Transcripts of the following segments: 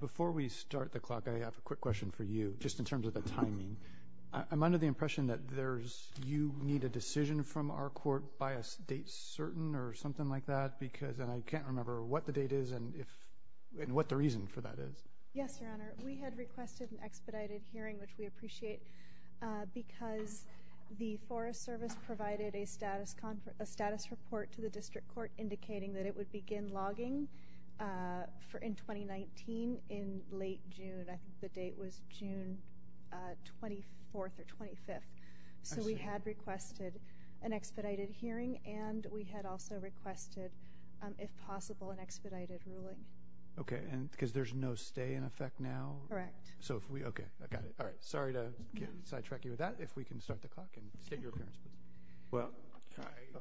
Before we start the clock, I have a quick question for you, just in terms of the timing. I'm under the impression that you need a decision from our court by a date certain or something like that, and I can't remember what the date is and what the reason for that is. Yes, Your Honor. We had requested an expedited hearing, which we appreciate, because the Forest Service provided a status report to the District Court indicating that it would begin logging in 2019 in late June. I think the date was June 24th or 25th. So we had requested an expedited hearing, and we had also requested, if possible, an expedited ruling. Okay, because there's no stay in effect now? Correct. Okay, I got it. Sorry to sidetrack you with that. If we can start the clock and get your appearance. Well,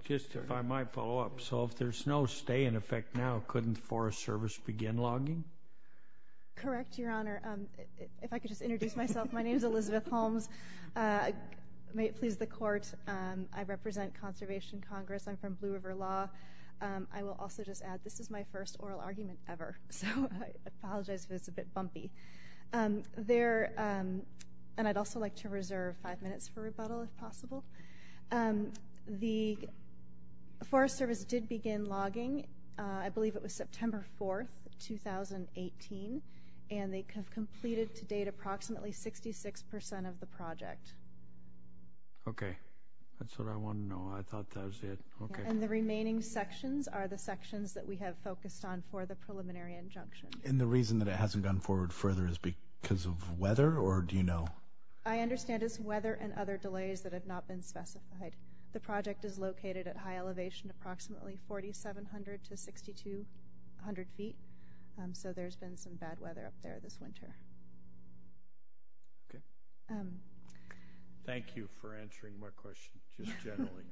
just if I might follow up. So if there's no stay in effect now, couldn't the Forest Service begin logging? Correct, Your Honor. If I could just introduce myself. My name is Elizabeth Holmes. May it please the Court, I represent Conservation Congress. I'm from Blue River Law. I will also just add this is my first oral argument ever, so I apologize if it's a bit bumpy. There, and I'd also like to reserve five minutes for rebuttal if possible. The Forest Service did begin logging, I believe it was September 4th, 2018, and they have completed to date approximately 66% of the project. Okay. That's what I want to know. I thought that was it. Okay. And the remaining sections are the sections that we have focused on for the preliminary injunction. And the reason that it hasn't gone forward further is because of weather, or do you know? I understand it's weather and other delays that have not been specified. The project is located at high elevation, approximately 4,700 to 6,200 feet, so there's been some bad weather up there this winter. Okay. Thank you for answering my question, just generally.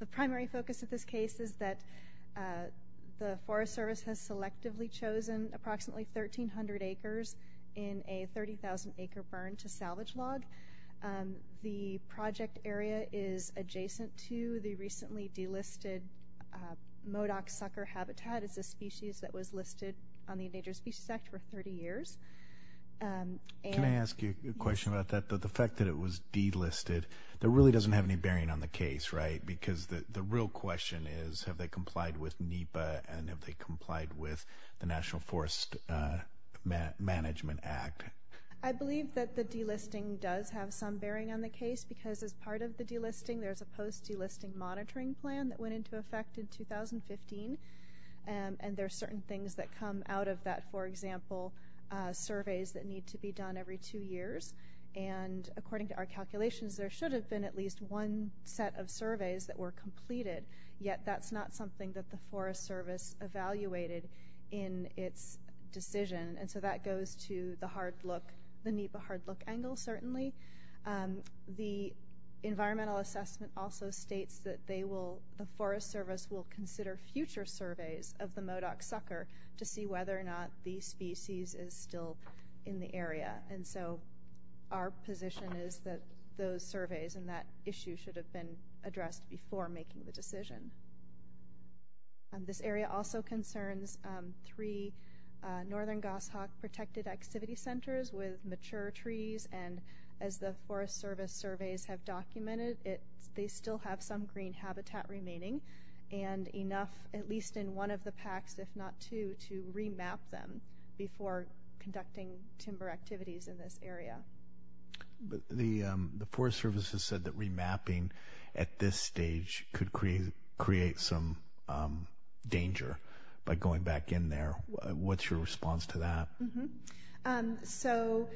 The primary focus of this case is that the Forest Service has selectively chosen approximately 1,300 acres in a 30,000-acre burn to salvage log. The project area is adjacent to the recently delisted Modoc sucker habitat. It's a species that was listed on the Endangered Species Act for 30 years. Can I ask you a question about that? The fact that it was delisted, that really doesn't have any bearing on the case, right? Because the real question is have they complied with NEPA and have they complied with the National Forest Management Act? I believe that the delisting does have some bearing on the case because as part of the delisting, there's a post-delisting monitoring plan that went into effect in 2015, and there are certain things that come out of that, for example, surveys that need to be done every two years. And according to our calculations, there should have been at least one set of surveys that were completed, yet that's not something that the Forest Service evaluated in its decision, and so that goes to the NEPA hard-look angle, certainly. The environmental assessment also states that they will, the Forest Service will consider future surveys of the Modoc sucker to see whether or not the species is still in the area. And so our position is that those surveys and that issue should have been addressed before making the decision. This area also concerns three northern goshawk protected activity centers with mature trees, and as the Forest Service surveys have documented, they still have some green habitat remaining, and enough at least in one of the packs, if not two, to remap them before conducting timber activities in this area. But the Forest Service has said that remapping at this stage could create some danger by going back in there. What's your response to that? So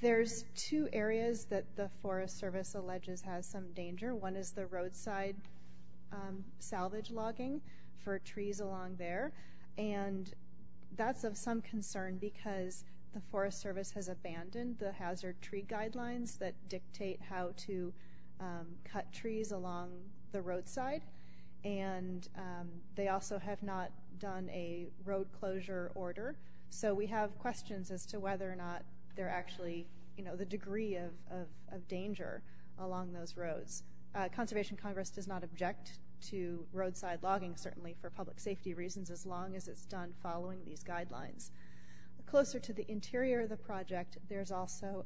there's two areas that the Forest Service alleges has some danger. One is the roadside salvage logging for trees along there, and that's of some concern because the Forest Service has abandoned the hazard tree guidelines that dictate how to cut trees along the roadside, and they also have not done a road closure order. So we have questions as to whether or not there actually, you know, the degree of danger along those roads. Conservation Congress does not object to roadside logging, certainly for public safety reasons, as long as it's done following these guidelines. Closer to the interior of the project, there's also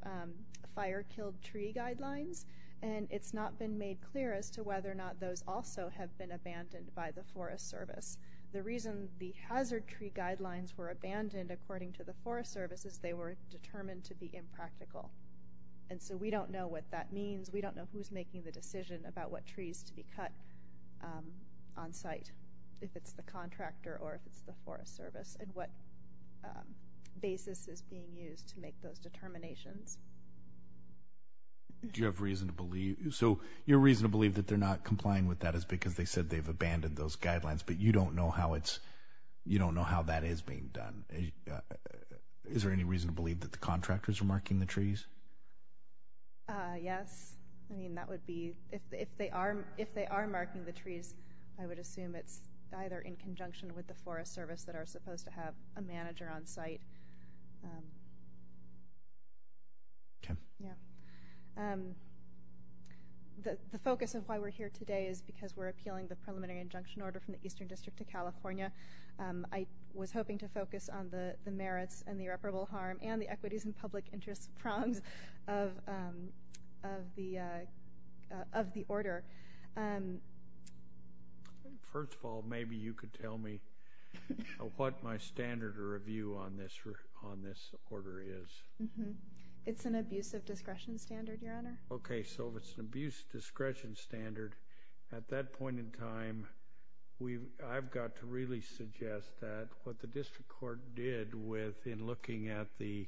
fire-killed tree guidelines, and it's not been made clear as to whether or not those also have been abandoned by the Forest Service. The reason the hazard tree guidelines were abandoned, according to the Forest Service, is they were determined to be impractical. And so we don't know what that means. We don't know who's making the decision about what trees to be cut on site, if it's the contractor or if it's the Forest Service and what basis is being used to make those determinations. Do you have reason to believe? So your reason to believe that they're not complying with that is because they said they've abandoned those guidelines, but you don't know how that is being done. Is there any reason to believe that the contractors are marking the trees? Yes. I mean, that would be if they are marking the trees, I would assume it's either in conjunction with the Forest Service that are supposed to have a manager on site. The focus of why we're here today is because we're appealing the preliminary injunction order from the Eastern District to California. I was hoping to focus on the merits and the irreparable harm and the equities and public interest prongs of the order. First of all, maybe you could tell me what my standard of review on this order is. It's an abuse of discretion standard, Your Honor. Okay, so if it's an abuse of discretion standard, at that point in time I've got to really suggest that what the district court did in looking at the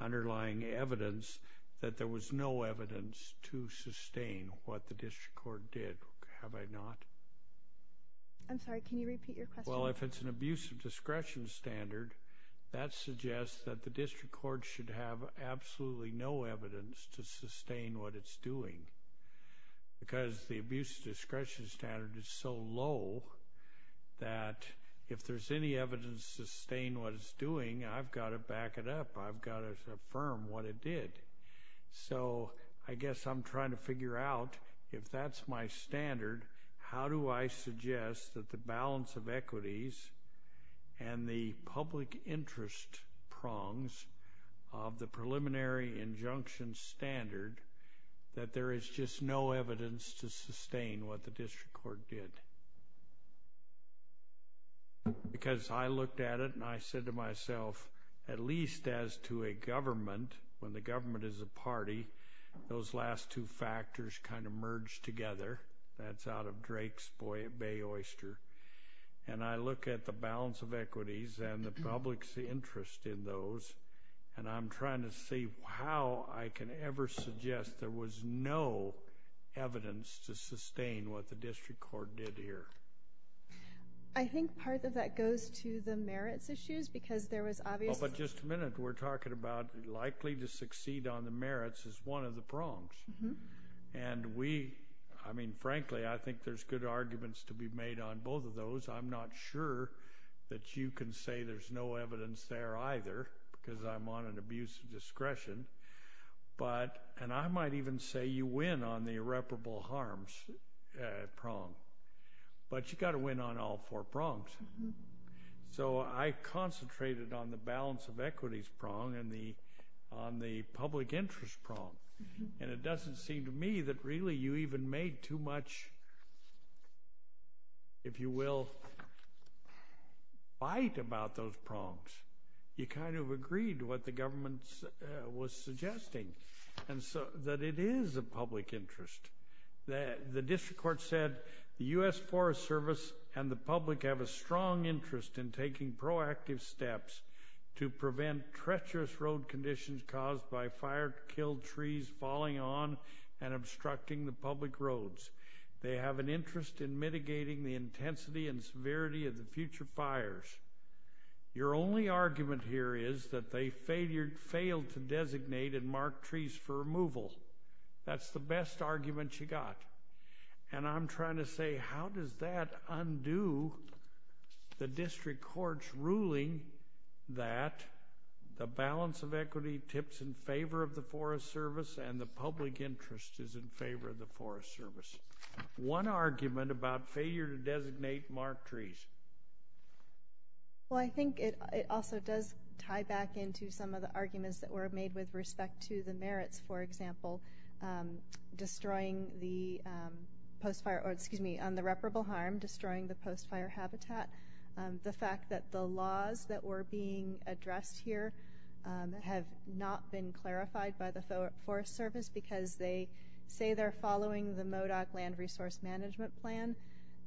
underlying evidence, that there was no evidence to sustain what the district court did, have I not? I'm sorry, can you repeat your question? Well, if it's an abuse of discretion standard, that suggests that the district court should have absolutely no evidence to sustain what it's doing because the abuse of discretion standard is so low that if there's any evidence to sustain what it's doing, I've got to back it up, I've got to affirm what it did. So I guess I'm trying to figure out if that's my standard, how do I suggest that the balance of equities and the public interest prongs of the preliminary injunction standard that there is just no evidence to sustain what the district court did? Because I looked at it and I said to myself, at least as to a government, when the government is a party, those last two factors kind of merge together. That's out of Drake's Bay Oyster. And I look at the balance of equities and the public's interest in those and I'm trying to see how I can ever suggest there was no evidence to sustain what the district court did here. I think part of that goes to the merits issues because there was obviously— But just a minute, we're talking about likely to succeed on the merits is one of the prongs. And we, I mean, frankly, I think there's good arguments to be made on both of those. I'm not sure that you can say there's no evidence there either because I'm on an abuse of discretion. And I might even say you win on the irreparable harms prong. But you've got to win on all four prongs. So I concentrated on the balance of equities prong and on the public interest prong. And it doesn't seem to me that really you even made too much, if you will, fight about those prongs. You kind of agreed to what the government was suggesting that it is a public interest. The district court said the U.S. Forest Service and the public have a strong interest in taking proactive steps to prevent treacherous road conditions caused by fire-killed trees falling on and obstructing the public roads. They have an interest in mitigating the intensity and severity of the future fires. Your only argument here is that they failed to designate and mark trees for removal. That's the best argument you got. And I'm trying to say, how does that undo the district court's ruling that the balance of equity tips in favor of the Forest Service and the public interest is in favor of the Forest Service? One argument about failure to designate marked trees. Well, I think it also does tie back into some of the arguments that were made with respect to the merits, for example, destroying the reparable harm, destroying the post-fire habitat. The fact that the laws that were being addressed here have not been clarified by the Forest Service is because they say they're following the MODOC Land Resource Management Plan.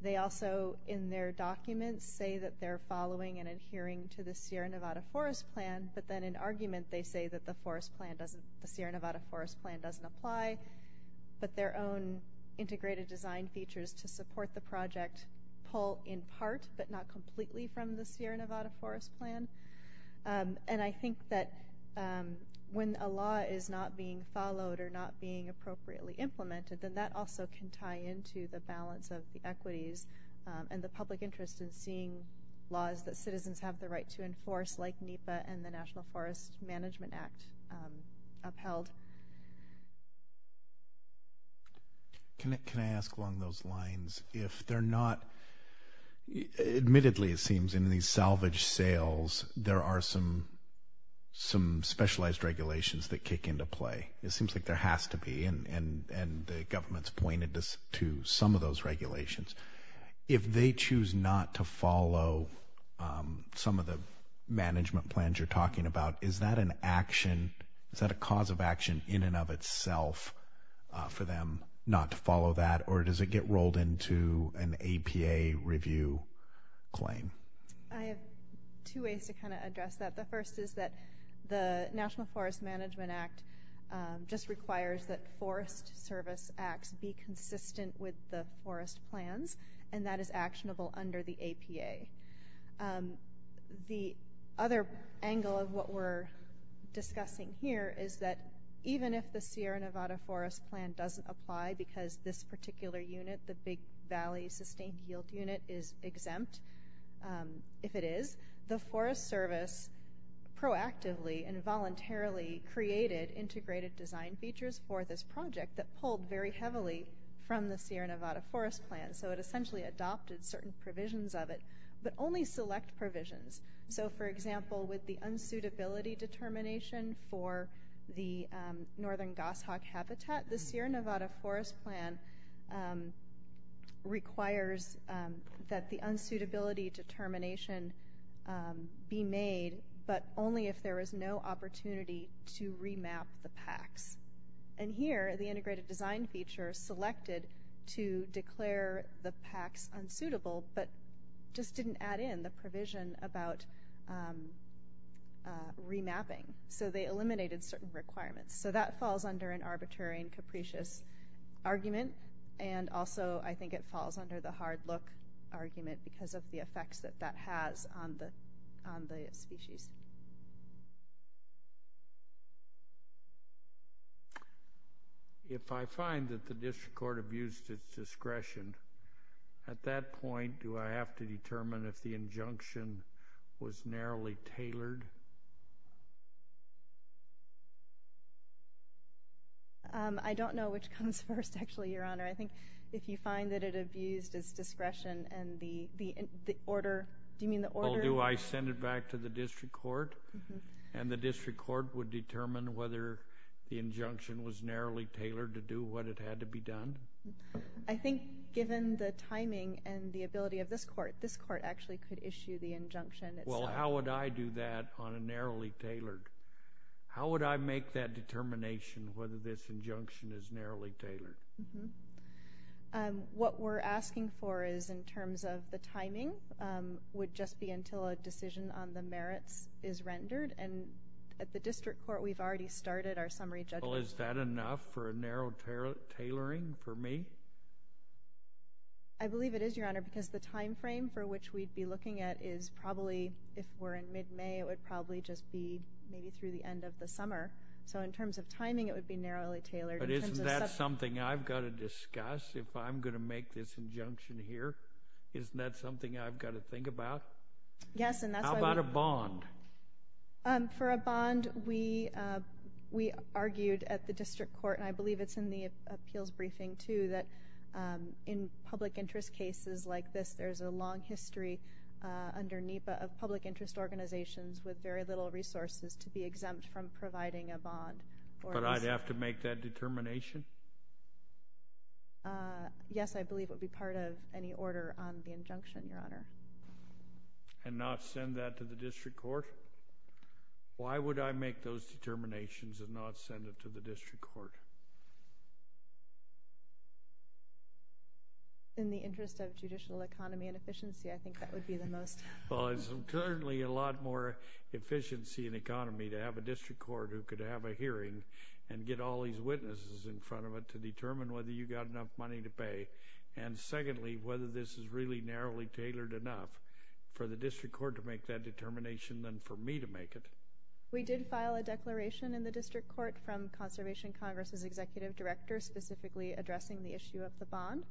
They also, in their documents, say that they're following and adhering to the Sierra Nevada Forest Plan, but then in argument they say that the Sierra Nevada Forest Plan doesn't apply, but their own integrated design features to support the project pull in part but not completely from the Sierra Nevada Forest Plan. And I think that when a law is not being followed or not being appropriately implemented, then that also can tie into the balance of the equities and the public interest in seeing laws that citizens have the right to enforce like NEPA and the National Forest Management Act upheld. Can I ask along those lines if they're not, admittedly it seems in these salvage sales, there are some specialized regulations that kick into play. It seems like there has to be, and the government's pointed to some of those regulations. If they choose not to follow some of the management plans you're talking about, is that an action, is that a cause of action in and of itself for them not to follow that, or does it get rolled into an APA review claim? I have two ways to kind of address that. The first is that the National Forest Management Act just requires that forest service acts be consistent with the forest plans, and that is actionable under the APA. The other angle of what we're discussing here is that even if the Sierra Nevada Forest Plan doesn't apply because this particular unit, the Big Valley Sustained Yield Unit, is exempt, if it is, the Forest Service proactively and voluntarily created integrated design features for this project that pulled very heavily from the Sierra Nevada Forest Plan. So it essentially adopted certain provisions of it, but only select provisions. So, for example, with the unsuitability determination for the northern goshawk habitat, the Sierra Nevada Forest Plan requires that the unsuitability determination be made, but only if there is no opportunity to remap the packs. And here, the integrated design feature selected to declare the packs unsuitable, but just didn't add in the provision about remapping. So they eliminated certain requirements. So that falls under an arbitrary and capricious argument, and also I think it falls under the hard-look argument because of the effects that that has on the species. If I find that the district court abused its discretion, at that point, do I have to determine if the injunction was narrowly tailored? I don't know which comes first, actually, Your Honor. I think if you find that it abused its discretion and the order— Do you mean the order— Or do I send it back to the district court, and the district court would determine whether the injunction was narrowly tailored to do what it had to be done? I think given the timing and the ability of this court, this court actually could issue the injunction itself. Well, how would I do that on a narrowly tailored— how would I make that determination whether this injunction is narrowly tailored? What we're asking for is in terms of the timing would just be until a decision on the merits is rendered, and at the district court, we've already started our summary judgment. Well, is that enough for a narrow tailoring for me? I believe it is, Your Honor, because the timeframe for which we'd be looking at is probably if we're in mid-May, it would probably just be maybe through the end of the summer. So in terms of timing, it would be narrowly tailored. But isn't that something I've got to discuss if I'm going to make this injunction here? Isn't that something I've got to think about? Yes, and that's why we— How about a bond? For a bond, we argued at the district court, and I believe it's in the appeals briefing too, that in public interest cases like this, there's a long history under NEPA of public interest organizations with very little resources to be exempt from providing a bond. But I'd have to make that determination? Yes, I believe it would be part of any order on the injunction, Your Honor. And not send that to the district court? Why would I make those determinations and not send it to the district court? In the interest of judicial economy and efficiency, I think that would be the most— Well, there's currently a lot more efficiency in economy to have a district court who could have a hearing and get all these witnesses in front of it to determine whether you've got enough money to pay. And secondly, whether this is really narrowly tailored enough for the district court to make that determination than for me to make it. We did file a declaration in the district court from Conservation Congress' executive director specifically addressing the issue of the bond,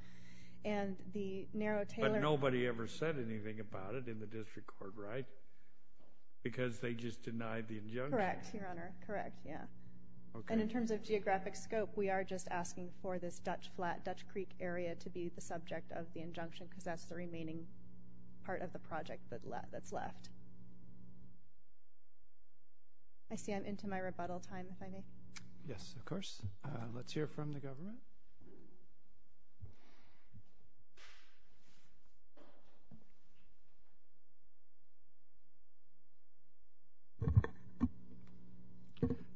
and the narrow tailor— But nobody ever said anything about it in the district court, right? Because they just denied the injunction? Correct, Your Honor. Correct, yeah. And in terms of geographic scope, we are just asking for this Dutch Flat, Dutch Creek area to be the subject of the injunction, because that's the remaining part of the project that's left. I see I'm into my rebuttal time, if I may. Yes, of course. Let's hear from the government.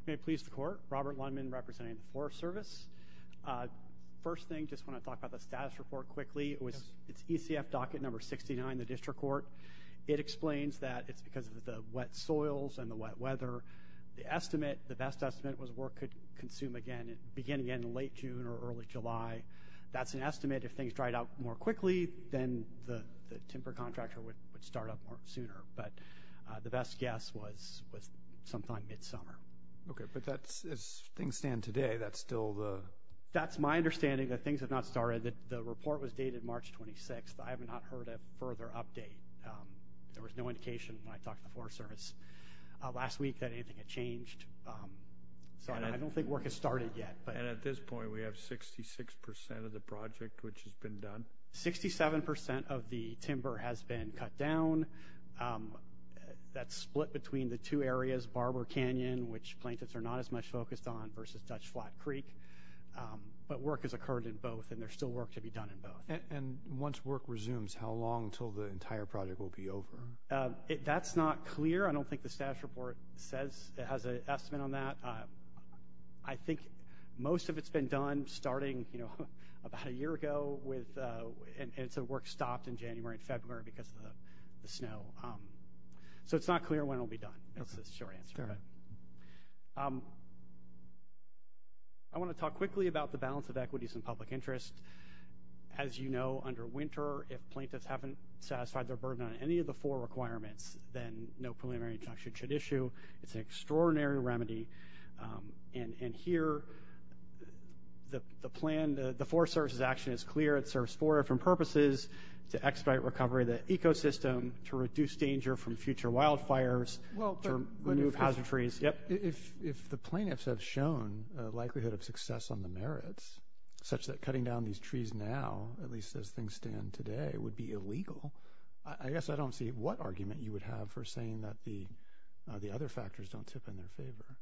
May it please the Court. Robert Lundman, representing the Forest Service. First thing, just want to talk about the status report quickly. It's ECF docket number 69, the district court. It explains that it's because of the wet soils and the wet weather. The estimate, the best estimate, was work could consume again beginning in late June or early July. That's an estimate. If things dried out more quickly, then the timber contractor would start up more sooner. But the best guess was sometime midsummer. Okay, but as things stand today, that's still the... That's my understanding that things have not started. The report was dated March 26th. I have not heard a further update. There was no indication when I talked to the Forest Service last week that anything had changed. So I don't think work has started yet. And at this point, we have 66% of the project which has been done? 67% of the timber has been cut down. That's split between the two areas, Barber Canyon, which plaintiffs are not as much focused on, versus Dutch Flat Creek. But work has occurred in both, and there's still work to be done in both. And once work resumes, how long until the entire project will be over? That's not clear. I don't think the status report says it has an estimate on that. I think most of it's been done starting about a year ago, and some work stopped in January and February because of the snow. So it's not clear when it will be done. That's the short answer. I want to talk quickly about the balance of equities and public interest. As you know, under winter, if plaintiffs haven't satisfied their burden on any of the four requirements, then no preliminary injunction should issue. It's an extraordinary remedy. And here, the plan, the Forest Service's action is clear. It serves four different purposes, to expedite recovery of the ecosystem, to reduce danger from future wildfires, to remove hazard trees. If the plaintiffs have shown a likelihood of success on the merits, such that cutting down these trees now, at least as things stand today, would be illegal, I guess I don't see what argument you would have for saying that the other factors don't tip in their favor.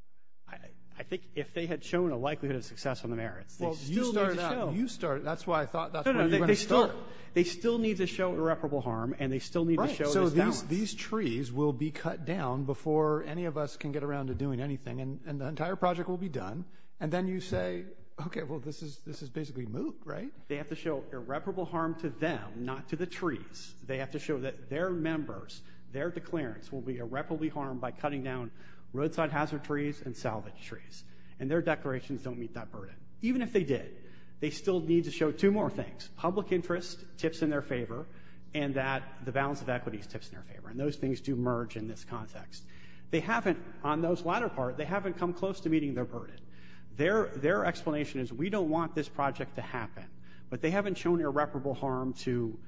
I think if they had shown a likelihood of success on the merits, they still need to show. Well, you started that. That's why I thought that's where you were going to start. They still need to show irreparable harm, and they still need to show this balance. Right. So these trees will be cut down before any of us can get around to doing anything, and the entire project will be done. And then you say, okay, well, this is basically moot, right? They have to show irreparable harm to them, not to the trees. They have to show that their members, their declarants will be irreparably harmed by cutting down roadside hazard trees and salvage trees. And their declarations don't meet that burden. Even if they did, they still need to show two more things, public interest tips in their favor, and that the balance of equity tips in their favor. And those things do merge in this context. They haven't, on those latter part, they haven't come close to meeting their burden. Their explanation is we don't want this project to happen, but they haven't shown irreparable harm to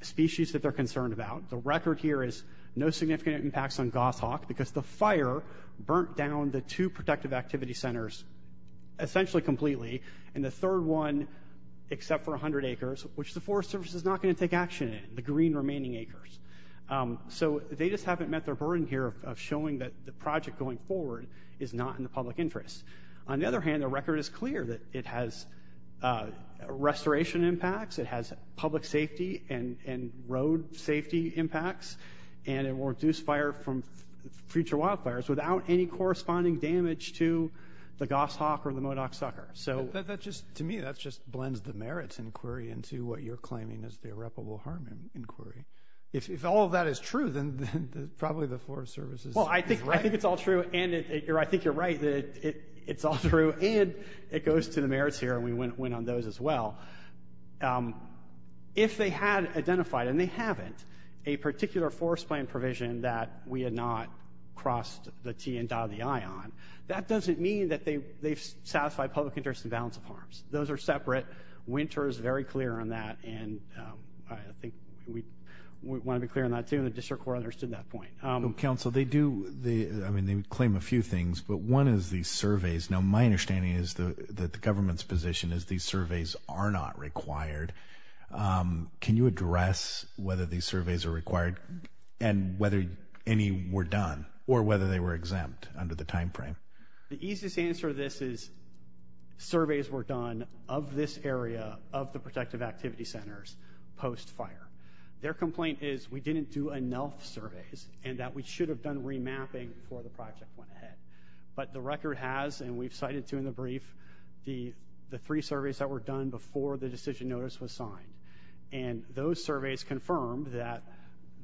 species that they're concerned about. The record here is no significant impacts on goshawk because the fire burnt down the two protective activity centers essentially completely. And the third one, except for 100 acres, which the forest service is not going to take action in, the green remaining acres. So they just haven't met their burden here of showing that the project going forward is not in the public interest. On the other hand, the record is clear that it has restoration impacts. It has public safety and road safety impacts. And it will reduce fire from future wildfires without any corresponding damage to the goshawk or the Modoc sucker. To me, that just blends the merits inquiry into what you're claiming is the irreparable harm inquiry. If all of that is true, then probably the forest service is right. I think it's all true. And I think you're right that it's all true. And it goes to the merits here, and we went on those as well. If they had identified, and they haven't, a particular forest plan provision that we had not crossed the T and dotted the I on, that doesn't mean that they've satisfied public interest in balance of harms. Those are separate. Winter is very clear on that. And I think we want to be clear on that too. And the district court understood that point. Council, they do. I mean, they would claim a few things, but one is these surveys. Now, My understanding is that the government's position is these surveys are not required. Can you address whether these surveys are required and whether any were done or whether they were exempt under the timeframe? The easiest answer to this is. Surveys were done of this area of the protective activity centers post fire. Their complaint is we didn't do enough surveys and that we should have done remapping for the project went ahead, but the record has, and we've cited two in the brief, the, the three surveys that were done before the decision notice was signed. And those surveys confirmed that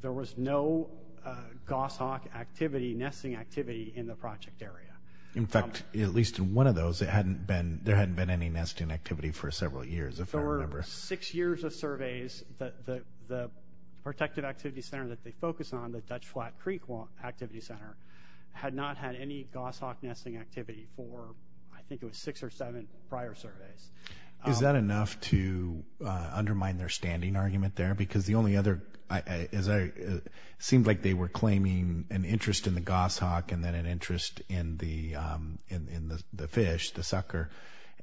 there was no, uh, Goss Hawk activity nesting activity in the project area. In fact, at least in one of those, it hadn't been, there hadn't been any nesting activity for several years. If there were six years of surveys that the, the protective activity center that they focus on the Dutch flat Creek activity center had not had any Goss Hawk nesting activity for, I think it was six or seven prior surveys. Is that enough to undermine their standing argument there? Because the only other, as I seemed like they were claiming an interest in the Goss Hawk and then an interest in the, um, in, in the, the fish, the sucker.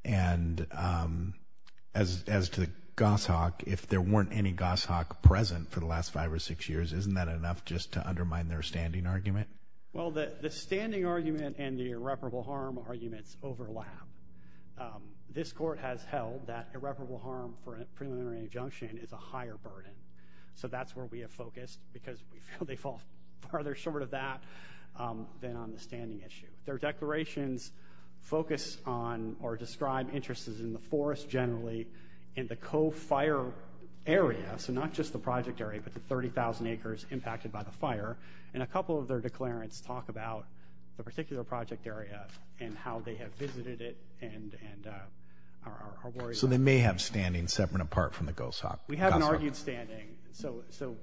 And, um, as, as to the Goss Hawk, if there weren't any Goss Hawk present for the last five or six years, isn't that enough just to undermine their standing argument? Well, the standing argument and the irreparable harm arguments overlap. Um, this court has held that irreparable harm for preliminary injunction is a higher burden. So that's where we have focused because we feel they fall farther short of that, um, than on the standing issue their declarations focus on or describe interests in the forest generally in the co-fire area. So not just the project area, but the 30,000 acres impacted by the fire and a couple of their declarants talk about the particular project area and how they have visited it and, and, uh, are worried. So they may have standing separate apart from the Goss Hawk. We haven't argued standing. So, so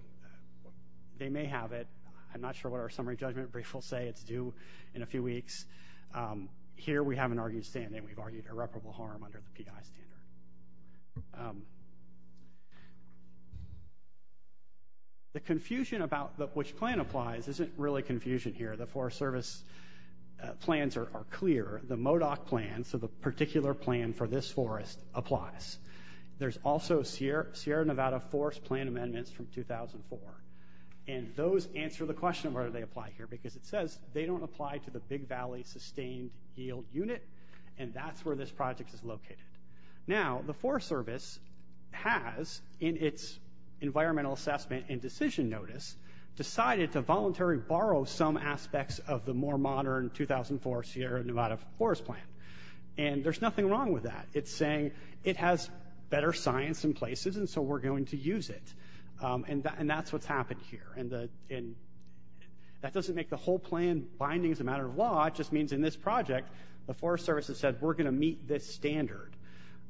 they may have it. I'm not sure what our summary judgment brief will say it's due in a few weeks. Um, here we haven't argued standing. We've argued irreparable harm under the PI standard. Um, okay. The confusion about the, which plan applies isn't really confusion here. The forest service plans are clear, the Modoc plan. So the particular plan for this forest applies. There's also Sierra, Sierra Nevada force plan amendments from 2004. And those answer the question of whether they apply here, because it says they don't apply to the big Valley sustained yield unit. And that's where this project is located. Now the forest service, has in its environmental assessment and decision notice decided to voluntary borrow some aspects of the more modern 2004 Sierra Nevada forest plan. And there's nothing wrong with that. It's saying it has better science in places. And so we're going to use it. Um, and that, and that's what's happened here. And the, and that doesn't make the whole plan bindings, a matter of law just means in this project, the forest services said, we're going to meet this standard.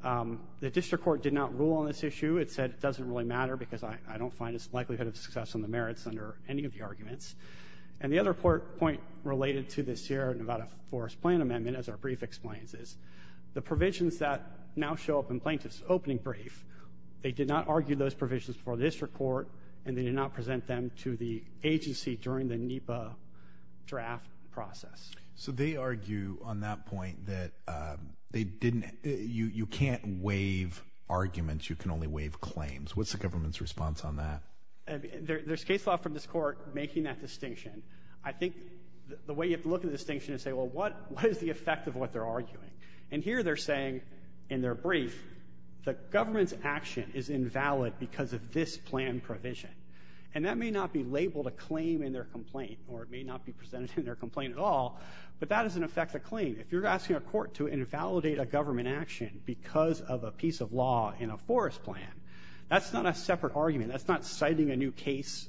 Um, the district court did not rule on this issue. It said, it doesn't really matter because I don't find it's the likelihood of success on the merits under any of the arguments. And the other port point related to this Sierra Nevada forest plan amendment, as our brief explains is the provisions that now show up in plaintiff's opening brief. They did not argue those provisions for this report, and they did not present them to the agency during the NEPA draft process. So they argue on that point that, uh, they didn't, you, you can't waive arguments. You can only waive claims. What's the government's response on that? There there's case law from this court, making that distinction. I think the way you have to look at the distinction and say, well, what is the effect of what they're arguing? And here they're saying in their brief, the government's action is invalid because of this plan provision. And that may not be labeled a claim in their complaint, or it may not be presented in their complaint at all, but that doesn't affect the claim. If you're asking a court to invalidate a government action because of a piece of law in a forest plan, that's not a separate argument. That's not citing a new case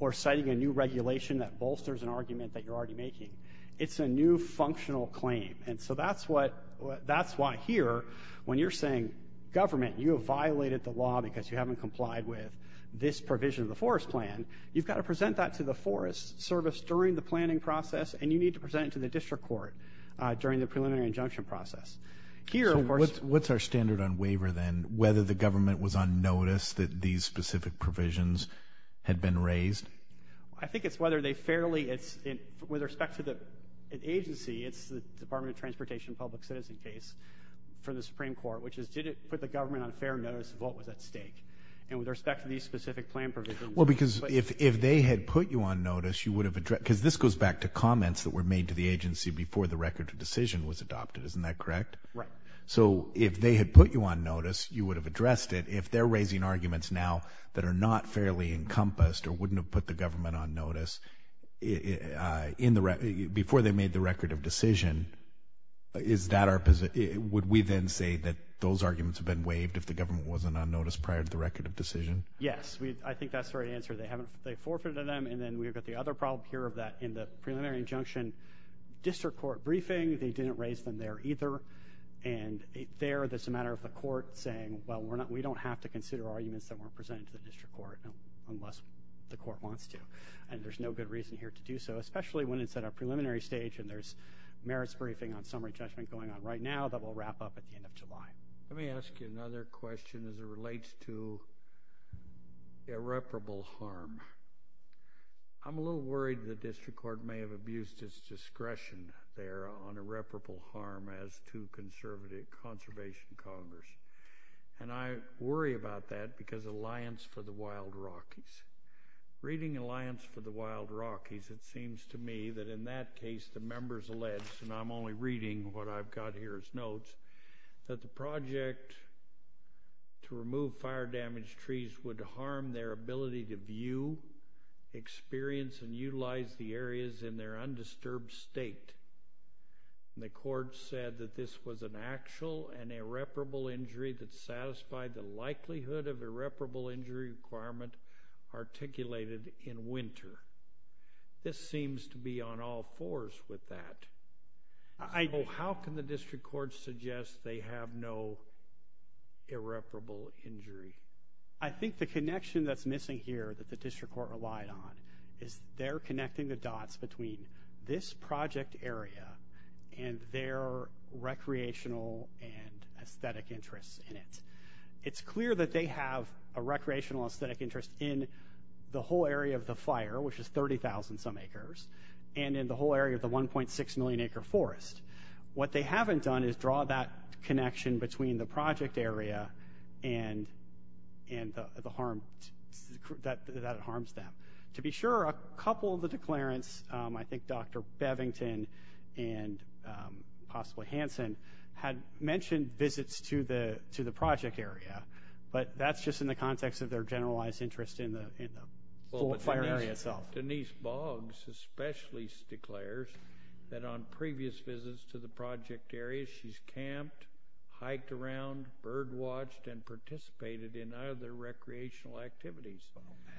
or citing a new regulation that bolsters an argument that you're already making. It's a new functional claim. And so that's what, that's why here when you're saying government, you have violated the law because you haven't complied with this provision of the forest plan. You've got to present that to the forest service during the planning process. And you need to present it to the district court during the preliminary injunction process. So what's our standard on waiver then? Whether the government was on notice that these specific provisions had been raised? I think it's whether they fairly, it's with respect to the agency, it's the Department of Transportation public citizen case for the Supreme Court, which is did it put the government on fair notice of what was at stake? And with respect to these specific plan provisions. Well, because if they had put you on notice, you would have addressed, because this goes back to comments that were made to the agency before the record of decision was adopted. Isn't that correct? Right. So if they had put you on notice, you would have addressed it. If they're raising arguments now that are not fairly encompassed or wouldn't have put the government on notice in the, before they made the record of decision, is that our position? Would we then say that those arguments have been waived if the government wasn't on notice prior to the record of decision? Yes, I think that's the right answer. They haven't, they forfeited them and then we've got the other problem here of that in the preliminary injunction district court briefing, they didn't raise them there either. And there, that's a matter of the court saying, well, we're not, we don't have to consider arguments that weren't presented to the district court unless the court wants to. And there's no good reason here to do so, especially when it's at a preliminary stage and there's merits briefing on summary judgment going on right now that we'll wrap up at the end of July. Let me ask you another question as it relates to irreparable harm. I'm a little worried the district court may have abused its discretion there on irreparable harm as to conservative conservation Congress. And I worry about that because Alliance for the Wild Rockies, reading Alliance for the Wild Rockies, it seems to me that in that case, the members alleged, and I'm only reading what I've got here as notes, that the project to remove fire damaged trees would harm their ability to experience and utilize the areas in their undisturbed state. And the court said that this was an actual and irreparable injury that satisfied the likelihood of irreparable injury requirement articulated in winter. This seems to be on all fours with that. How can the district court suggest they have no irreparable injury? I think the connection that's missing here that the district court relied on is they're connecting the dots between this project area and their recreational and aesthetic interests in it. It's clear that they have a recreational aesthetic interest in the whole area of the fire, which is 30,000 some acres, and in the whole area of the 1.6 million acre forest. What they haven't done is draw that connection between the project area and the harm that it harms them. To be sure, a couple of the declarants, I think Dr. Bevington and possibly Hanson, had mentioned visits to the project area, but that's just in the context of their generalized interest in the whole fire area itself. Denise Boggs especially declares that on previous visits to the project area, she's camped, hiked around, bird watched, and participated in other recreational activities.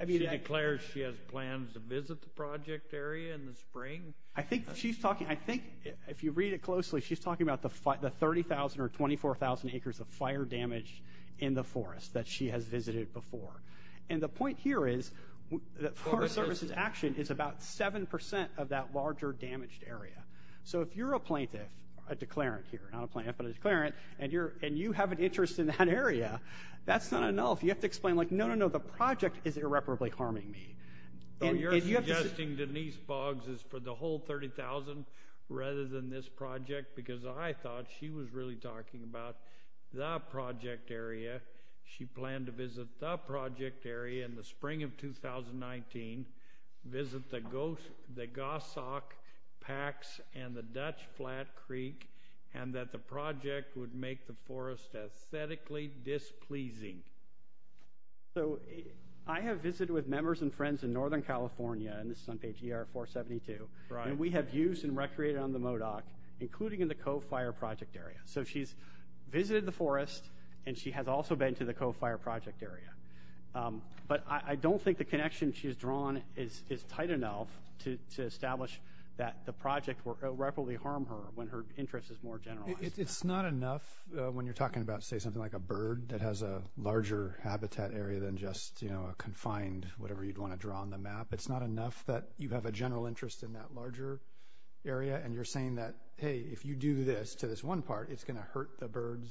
She declares she has plans to visit the project area in the spring. I think if you read it closely, she's talking about the 30,000 or 24,000 acres of fire damage in the forest that she has visited before. And the point here is that Forest Service's action is about 7% of that larger damaged area. So if you're a plaintiff, a declarant here, not a plaintiff, but a declarant, and you have an interest in that area, that's not enough. You have to explain like, no, no, no, the project is irreparably harming me. So you're suggesting Denise Boggs is for the whole 30,000 rather than this project because I thought she was really talking about the project area. She planned to visit the project area in the spring of 2019, visit the Gosok, Pax, and the Dutch Flat Creek, and that the project would make the forest aesthetically displeasing. So I have visited with members and friends in Northern California, and this is on page ER 472, and we have used and recreated on the MODOC, including in the Cove Fire Project area. So she's visited the forest, and she has also been to the Cove Fire Project area. But I don't think the connection she has drawn is tight enough to establish that the project will irreparably harm her when her interest is more generalized. It's not enough when you're talking about, say, something like a bird that has a larger habitat area than just a confined, whatever you'd want to draw on the map. It's not enough that you have a general interest in that larger area, and you're saying that, hey, if you do this to this one part, it's going to hurt the birds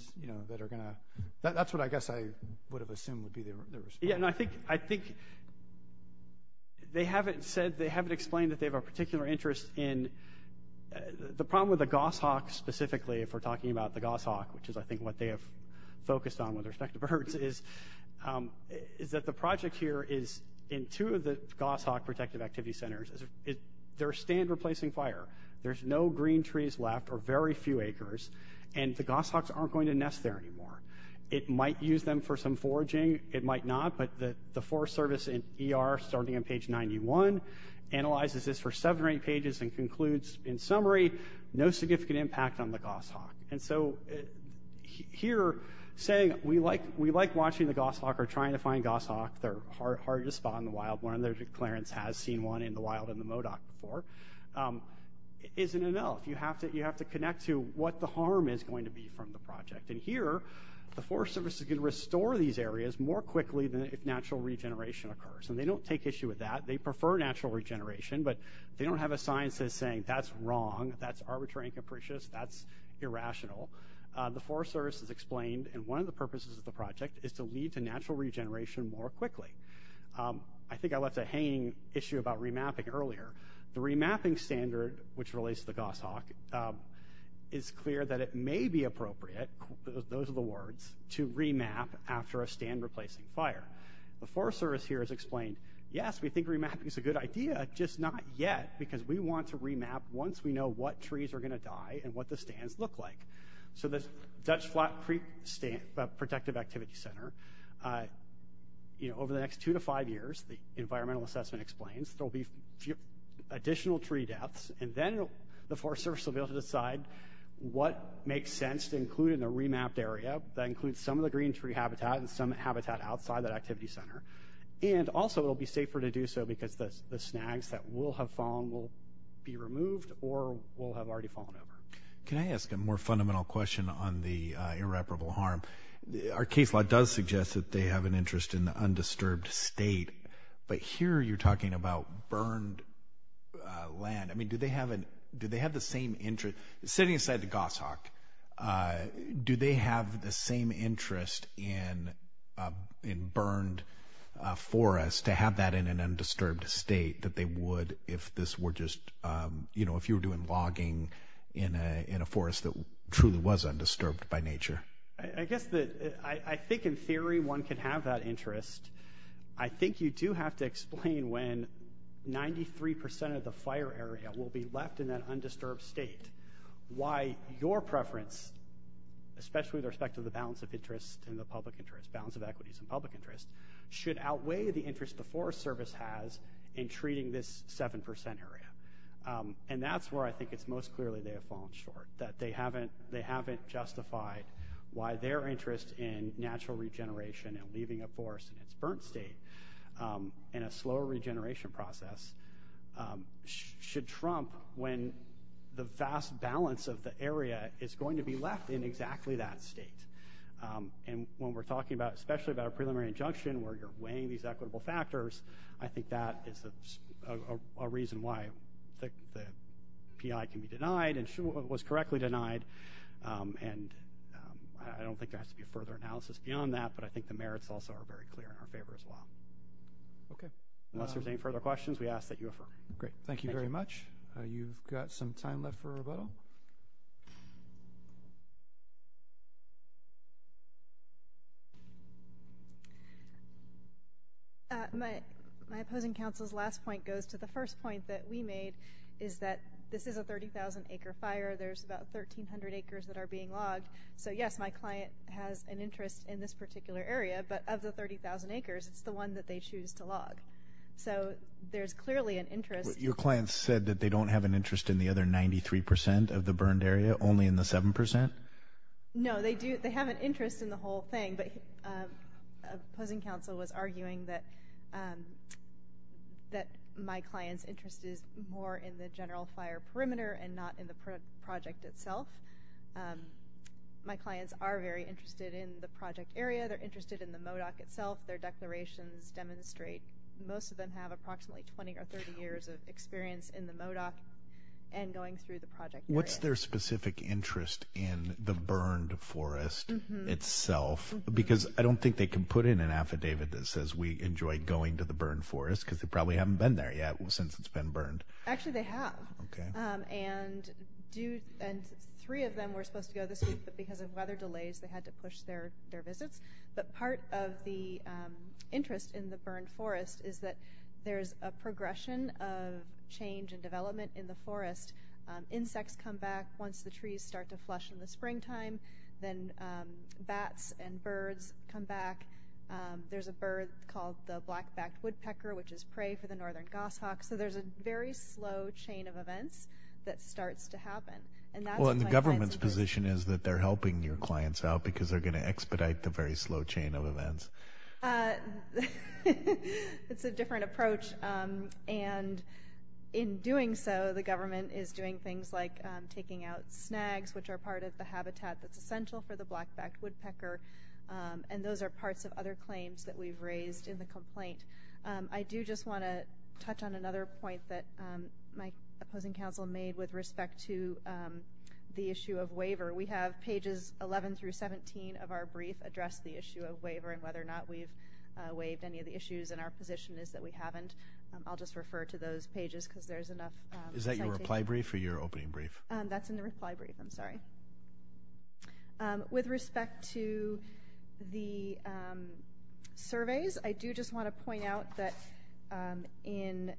that are going to – that's what I guess I would have assumed would be the response. Yeah, no, I think they haven't said – they haven't explained that they have a particular interest in – the problem with the goshawk specifically, if we're talking about the goshawk, which is, I think, what they have focused on with respect to birds, is that the project here is in two of the goshawk protective activity centers. They're stand-replacing fire. There's no green trees left or very few acres, and the goshawks aren't going to nest there anymore. It might use them for some foraging. It might not, but the Forest Service and ER, starting on page 91, analyzes this for seven or eight pages and concludes, in summary, no significant impact on the goshawk. And so here saying, we like watching the goshawk or trying to find goshawk. They're hard to spot in the wild. One of their declarants has seen one in the wild in the MODOC before. It isn't enough. You have to connect to what the harm is going to be from the project. And here, the Forest Service is going to restore these areas more quickly than if natural regeneration occurs. And they don't take issue with that. They prefer natural regeneration, but they don't have a science that's saying, that's wrong, that's arbitrary and capricious, that's irrational. The Forest Service has explained, and one of the purposes of the project is to lead to natural regeneration more quickly. I think I left a hanging issue about remapping earlier. The remapping standard, which relates to the goshawk, is clear that it may be appropriate, those are the words, to remap after a stand-replacing fire. The Forest Service here has explained, yes, we think remapping is a good idea, just not yet because we want to remap once we know what trees are going to die and what the stands look like. So the Dutch Flat Creek Protective Activity Center, over the next two to five years, the environmental assessment explains, there will be additional tree deaths, and then the Forest Service will be able to decide what makes sense to include in the remapped area. That includes some of the green tree habitat and some habitat outside that activity center. And also it will be safer to do so because the snags that will have fallen will be removed or will have already fallen over. Can I ask a more fundamental question on the irreparable harm? Our case law does suggest that they have an interest in the undisturbed state, but here you're talking about burned land. I mean, do they have the same interest? Sitting inside the goshawk, do they have the same interest in burned forest to have that in an undisturbed state that they would if this were just, you know, if you were doing logging in a forest that truly was undisturbed by nature? I guess that I think in theory one can have that interest. I think you do have to explain when 93% of the fire area will be left in that undisturbed state why your preference, especially with respect to the balance of interest and the public interest, balance of equities and public interest, should outweigh the interest the Forest Service has in treating this 7% area. And that's where I think it's most clearly they have fallen short, that they haven't justified why their interest in natural regeneration and leaving a forest in its burnt state in a slow regeneration process should trump when the vast balance of the area is going to be left in exactly that state. And when we're talking about, especially about a preliminary injunction where you're weighing these equitable factors, I think that is a reason why the PI can be denied and was correctly denied. And I don't think there has to be a further analysis beyond that, but I think the merits also are very clear in our favor as well. Okay. Unless there's any further questions, we ask that you affirm. Great. Thank you very much. You've got some time left for rebuttal. My opposing counsel's last point goes to the first point that we made, is that this is a 30,000-acre fire. There's about 1,300 acres that are being logged. So, yes, my client has an interest in this particular area, but of the 30,000 acres, it's the one that they choose to log. So there's clearly an interest. Your client said that they don't have an interest in the other 93% of the burned area, only in the 7%? No, they have an interest in the whole thing, but opposing counsel was arguing that my client's interest is more in the general fire perimeter and not in the project itself. My clients are very interested in the project area. They're interested in the MODOC itself. Their declarations demonstrate most of them have approximately 20 or 30 years of experience in the MODOC and going through the project area. What's their specific interest in the burned forest itself? Because I don't think they can put in an affidavit that says, we enjoyed going to the burned forest, because they probably haven't been there yet since it's been burned. Actually, they have, and three of them were supposed to go this week, but because of weather delays, they had to push their visits. But part of the interest in the burned forest is that there's a progression of change and development in the forest. Insects come back once the trees start to flush in the springtime. Then bats and birds come back. There's a bird called the black-backed woodpecker, which is prey for the northern goshawk. So there's a very slow chain of events that starts to happen. The government's position is that they're helping your clients out because they're going to expedite the very slow chain of events. It's a different approach. In doing so, the government is doing things like taking out snags, which are part of the habitat that's essential for the black-backed woodpecker. I do just want to touch on another point that my opposing counsel made with respect to the issue of waiver. We have pages 11 through 17 of our brief address the issue of waiver and whether or not we've waived any of the issues, and our position is that we haven't. I'll just refer to those pages because there's enough citation. Is that your reply brief or your opening brief? That's in the reply brief. I'm sorry. With respect to the surveys, I do just want to point out that in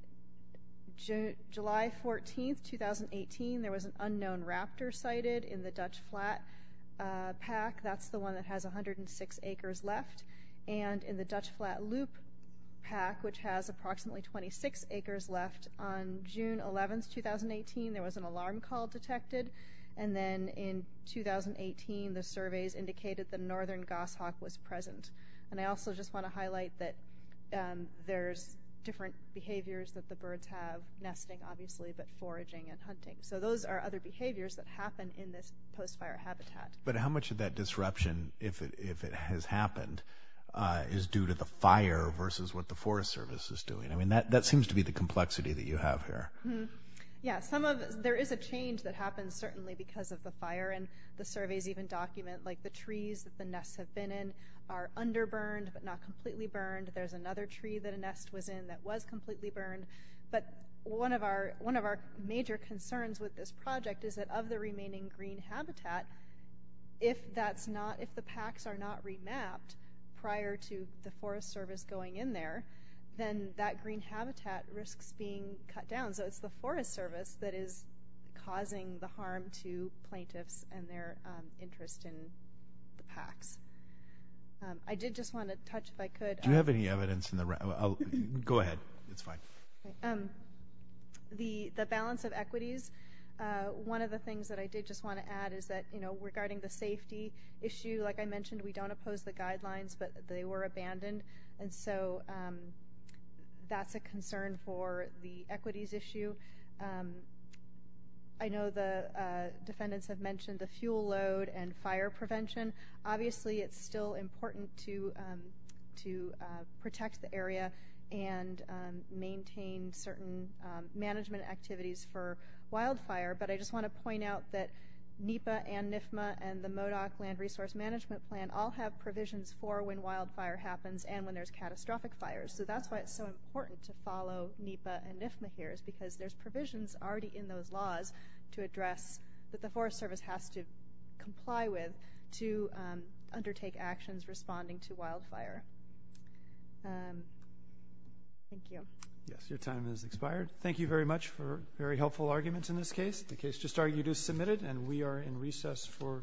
July 14, 2018, there was an unknown raptor sighted in the Dutch Flat Pack. That's the one that has 106 acres left. And in the Dutch Flat Loop Pack, which has approximately 26 acres left, on June 11, 2018, there was an alarm call detected. And then in 2018, the surveys indicated that a northern goshawk was present. And I also just want to highlight that there's different behaviors that the birds have, nesting, obviously, but foraging and hunting. So those are other behaviors that happen in this post-fire habitat. But how much of that disruption, if it has happened, is due to the fire versus what the Forest Service is doing? I mean, that seems to be the complexity that you have here. There is a change that happens, certainly, because of the fire. And the surveys even document the trees that the nests have been in are underburned but not completely burned. There's another tree that a nest was in that was completely burned. But one of our major concerns with this project is that of the remaining green habitat, if the packs are not remapped prior to the Forest Service going in there, then that green habitat risks being cut down. So it's the Forest Service that is causing the harm to plaintiffs and their interest in the packs. I did just want to touch, if I could, on... Do you have any evidence in the room? Go ahead. It's fine. The balance of equities, one of the things that I did just want to add is that regarding the safety issue, like I mentioned, we don't oppose the guidelines, but they were abandoned. And so that's a concern for the equities issue. I know the defendants have mentioned the fuel load and fire prevention. Obviously, it's still important to protect the area and maintain certain management activities for wildfire. But I just want to point out that NEPA and NIFMA and the MODOC Land Resource Management Plan all have provisions for when wildfire happens and when there's catastrophic fires. So that's why it's so important to follow NEPA and NIFMA here is because there's provisions already in those laws to address that the Forest Service has to comply with to undertake actions responding to wildfire. Thank you. Yes, your time has expired. Thank you very much for very helpful arguments in this case. The case just argued is submitted, and we are in recess for today.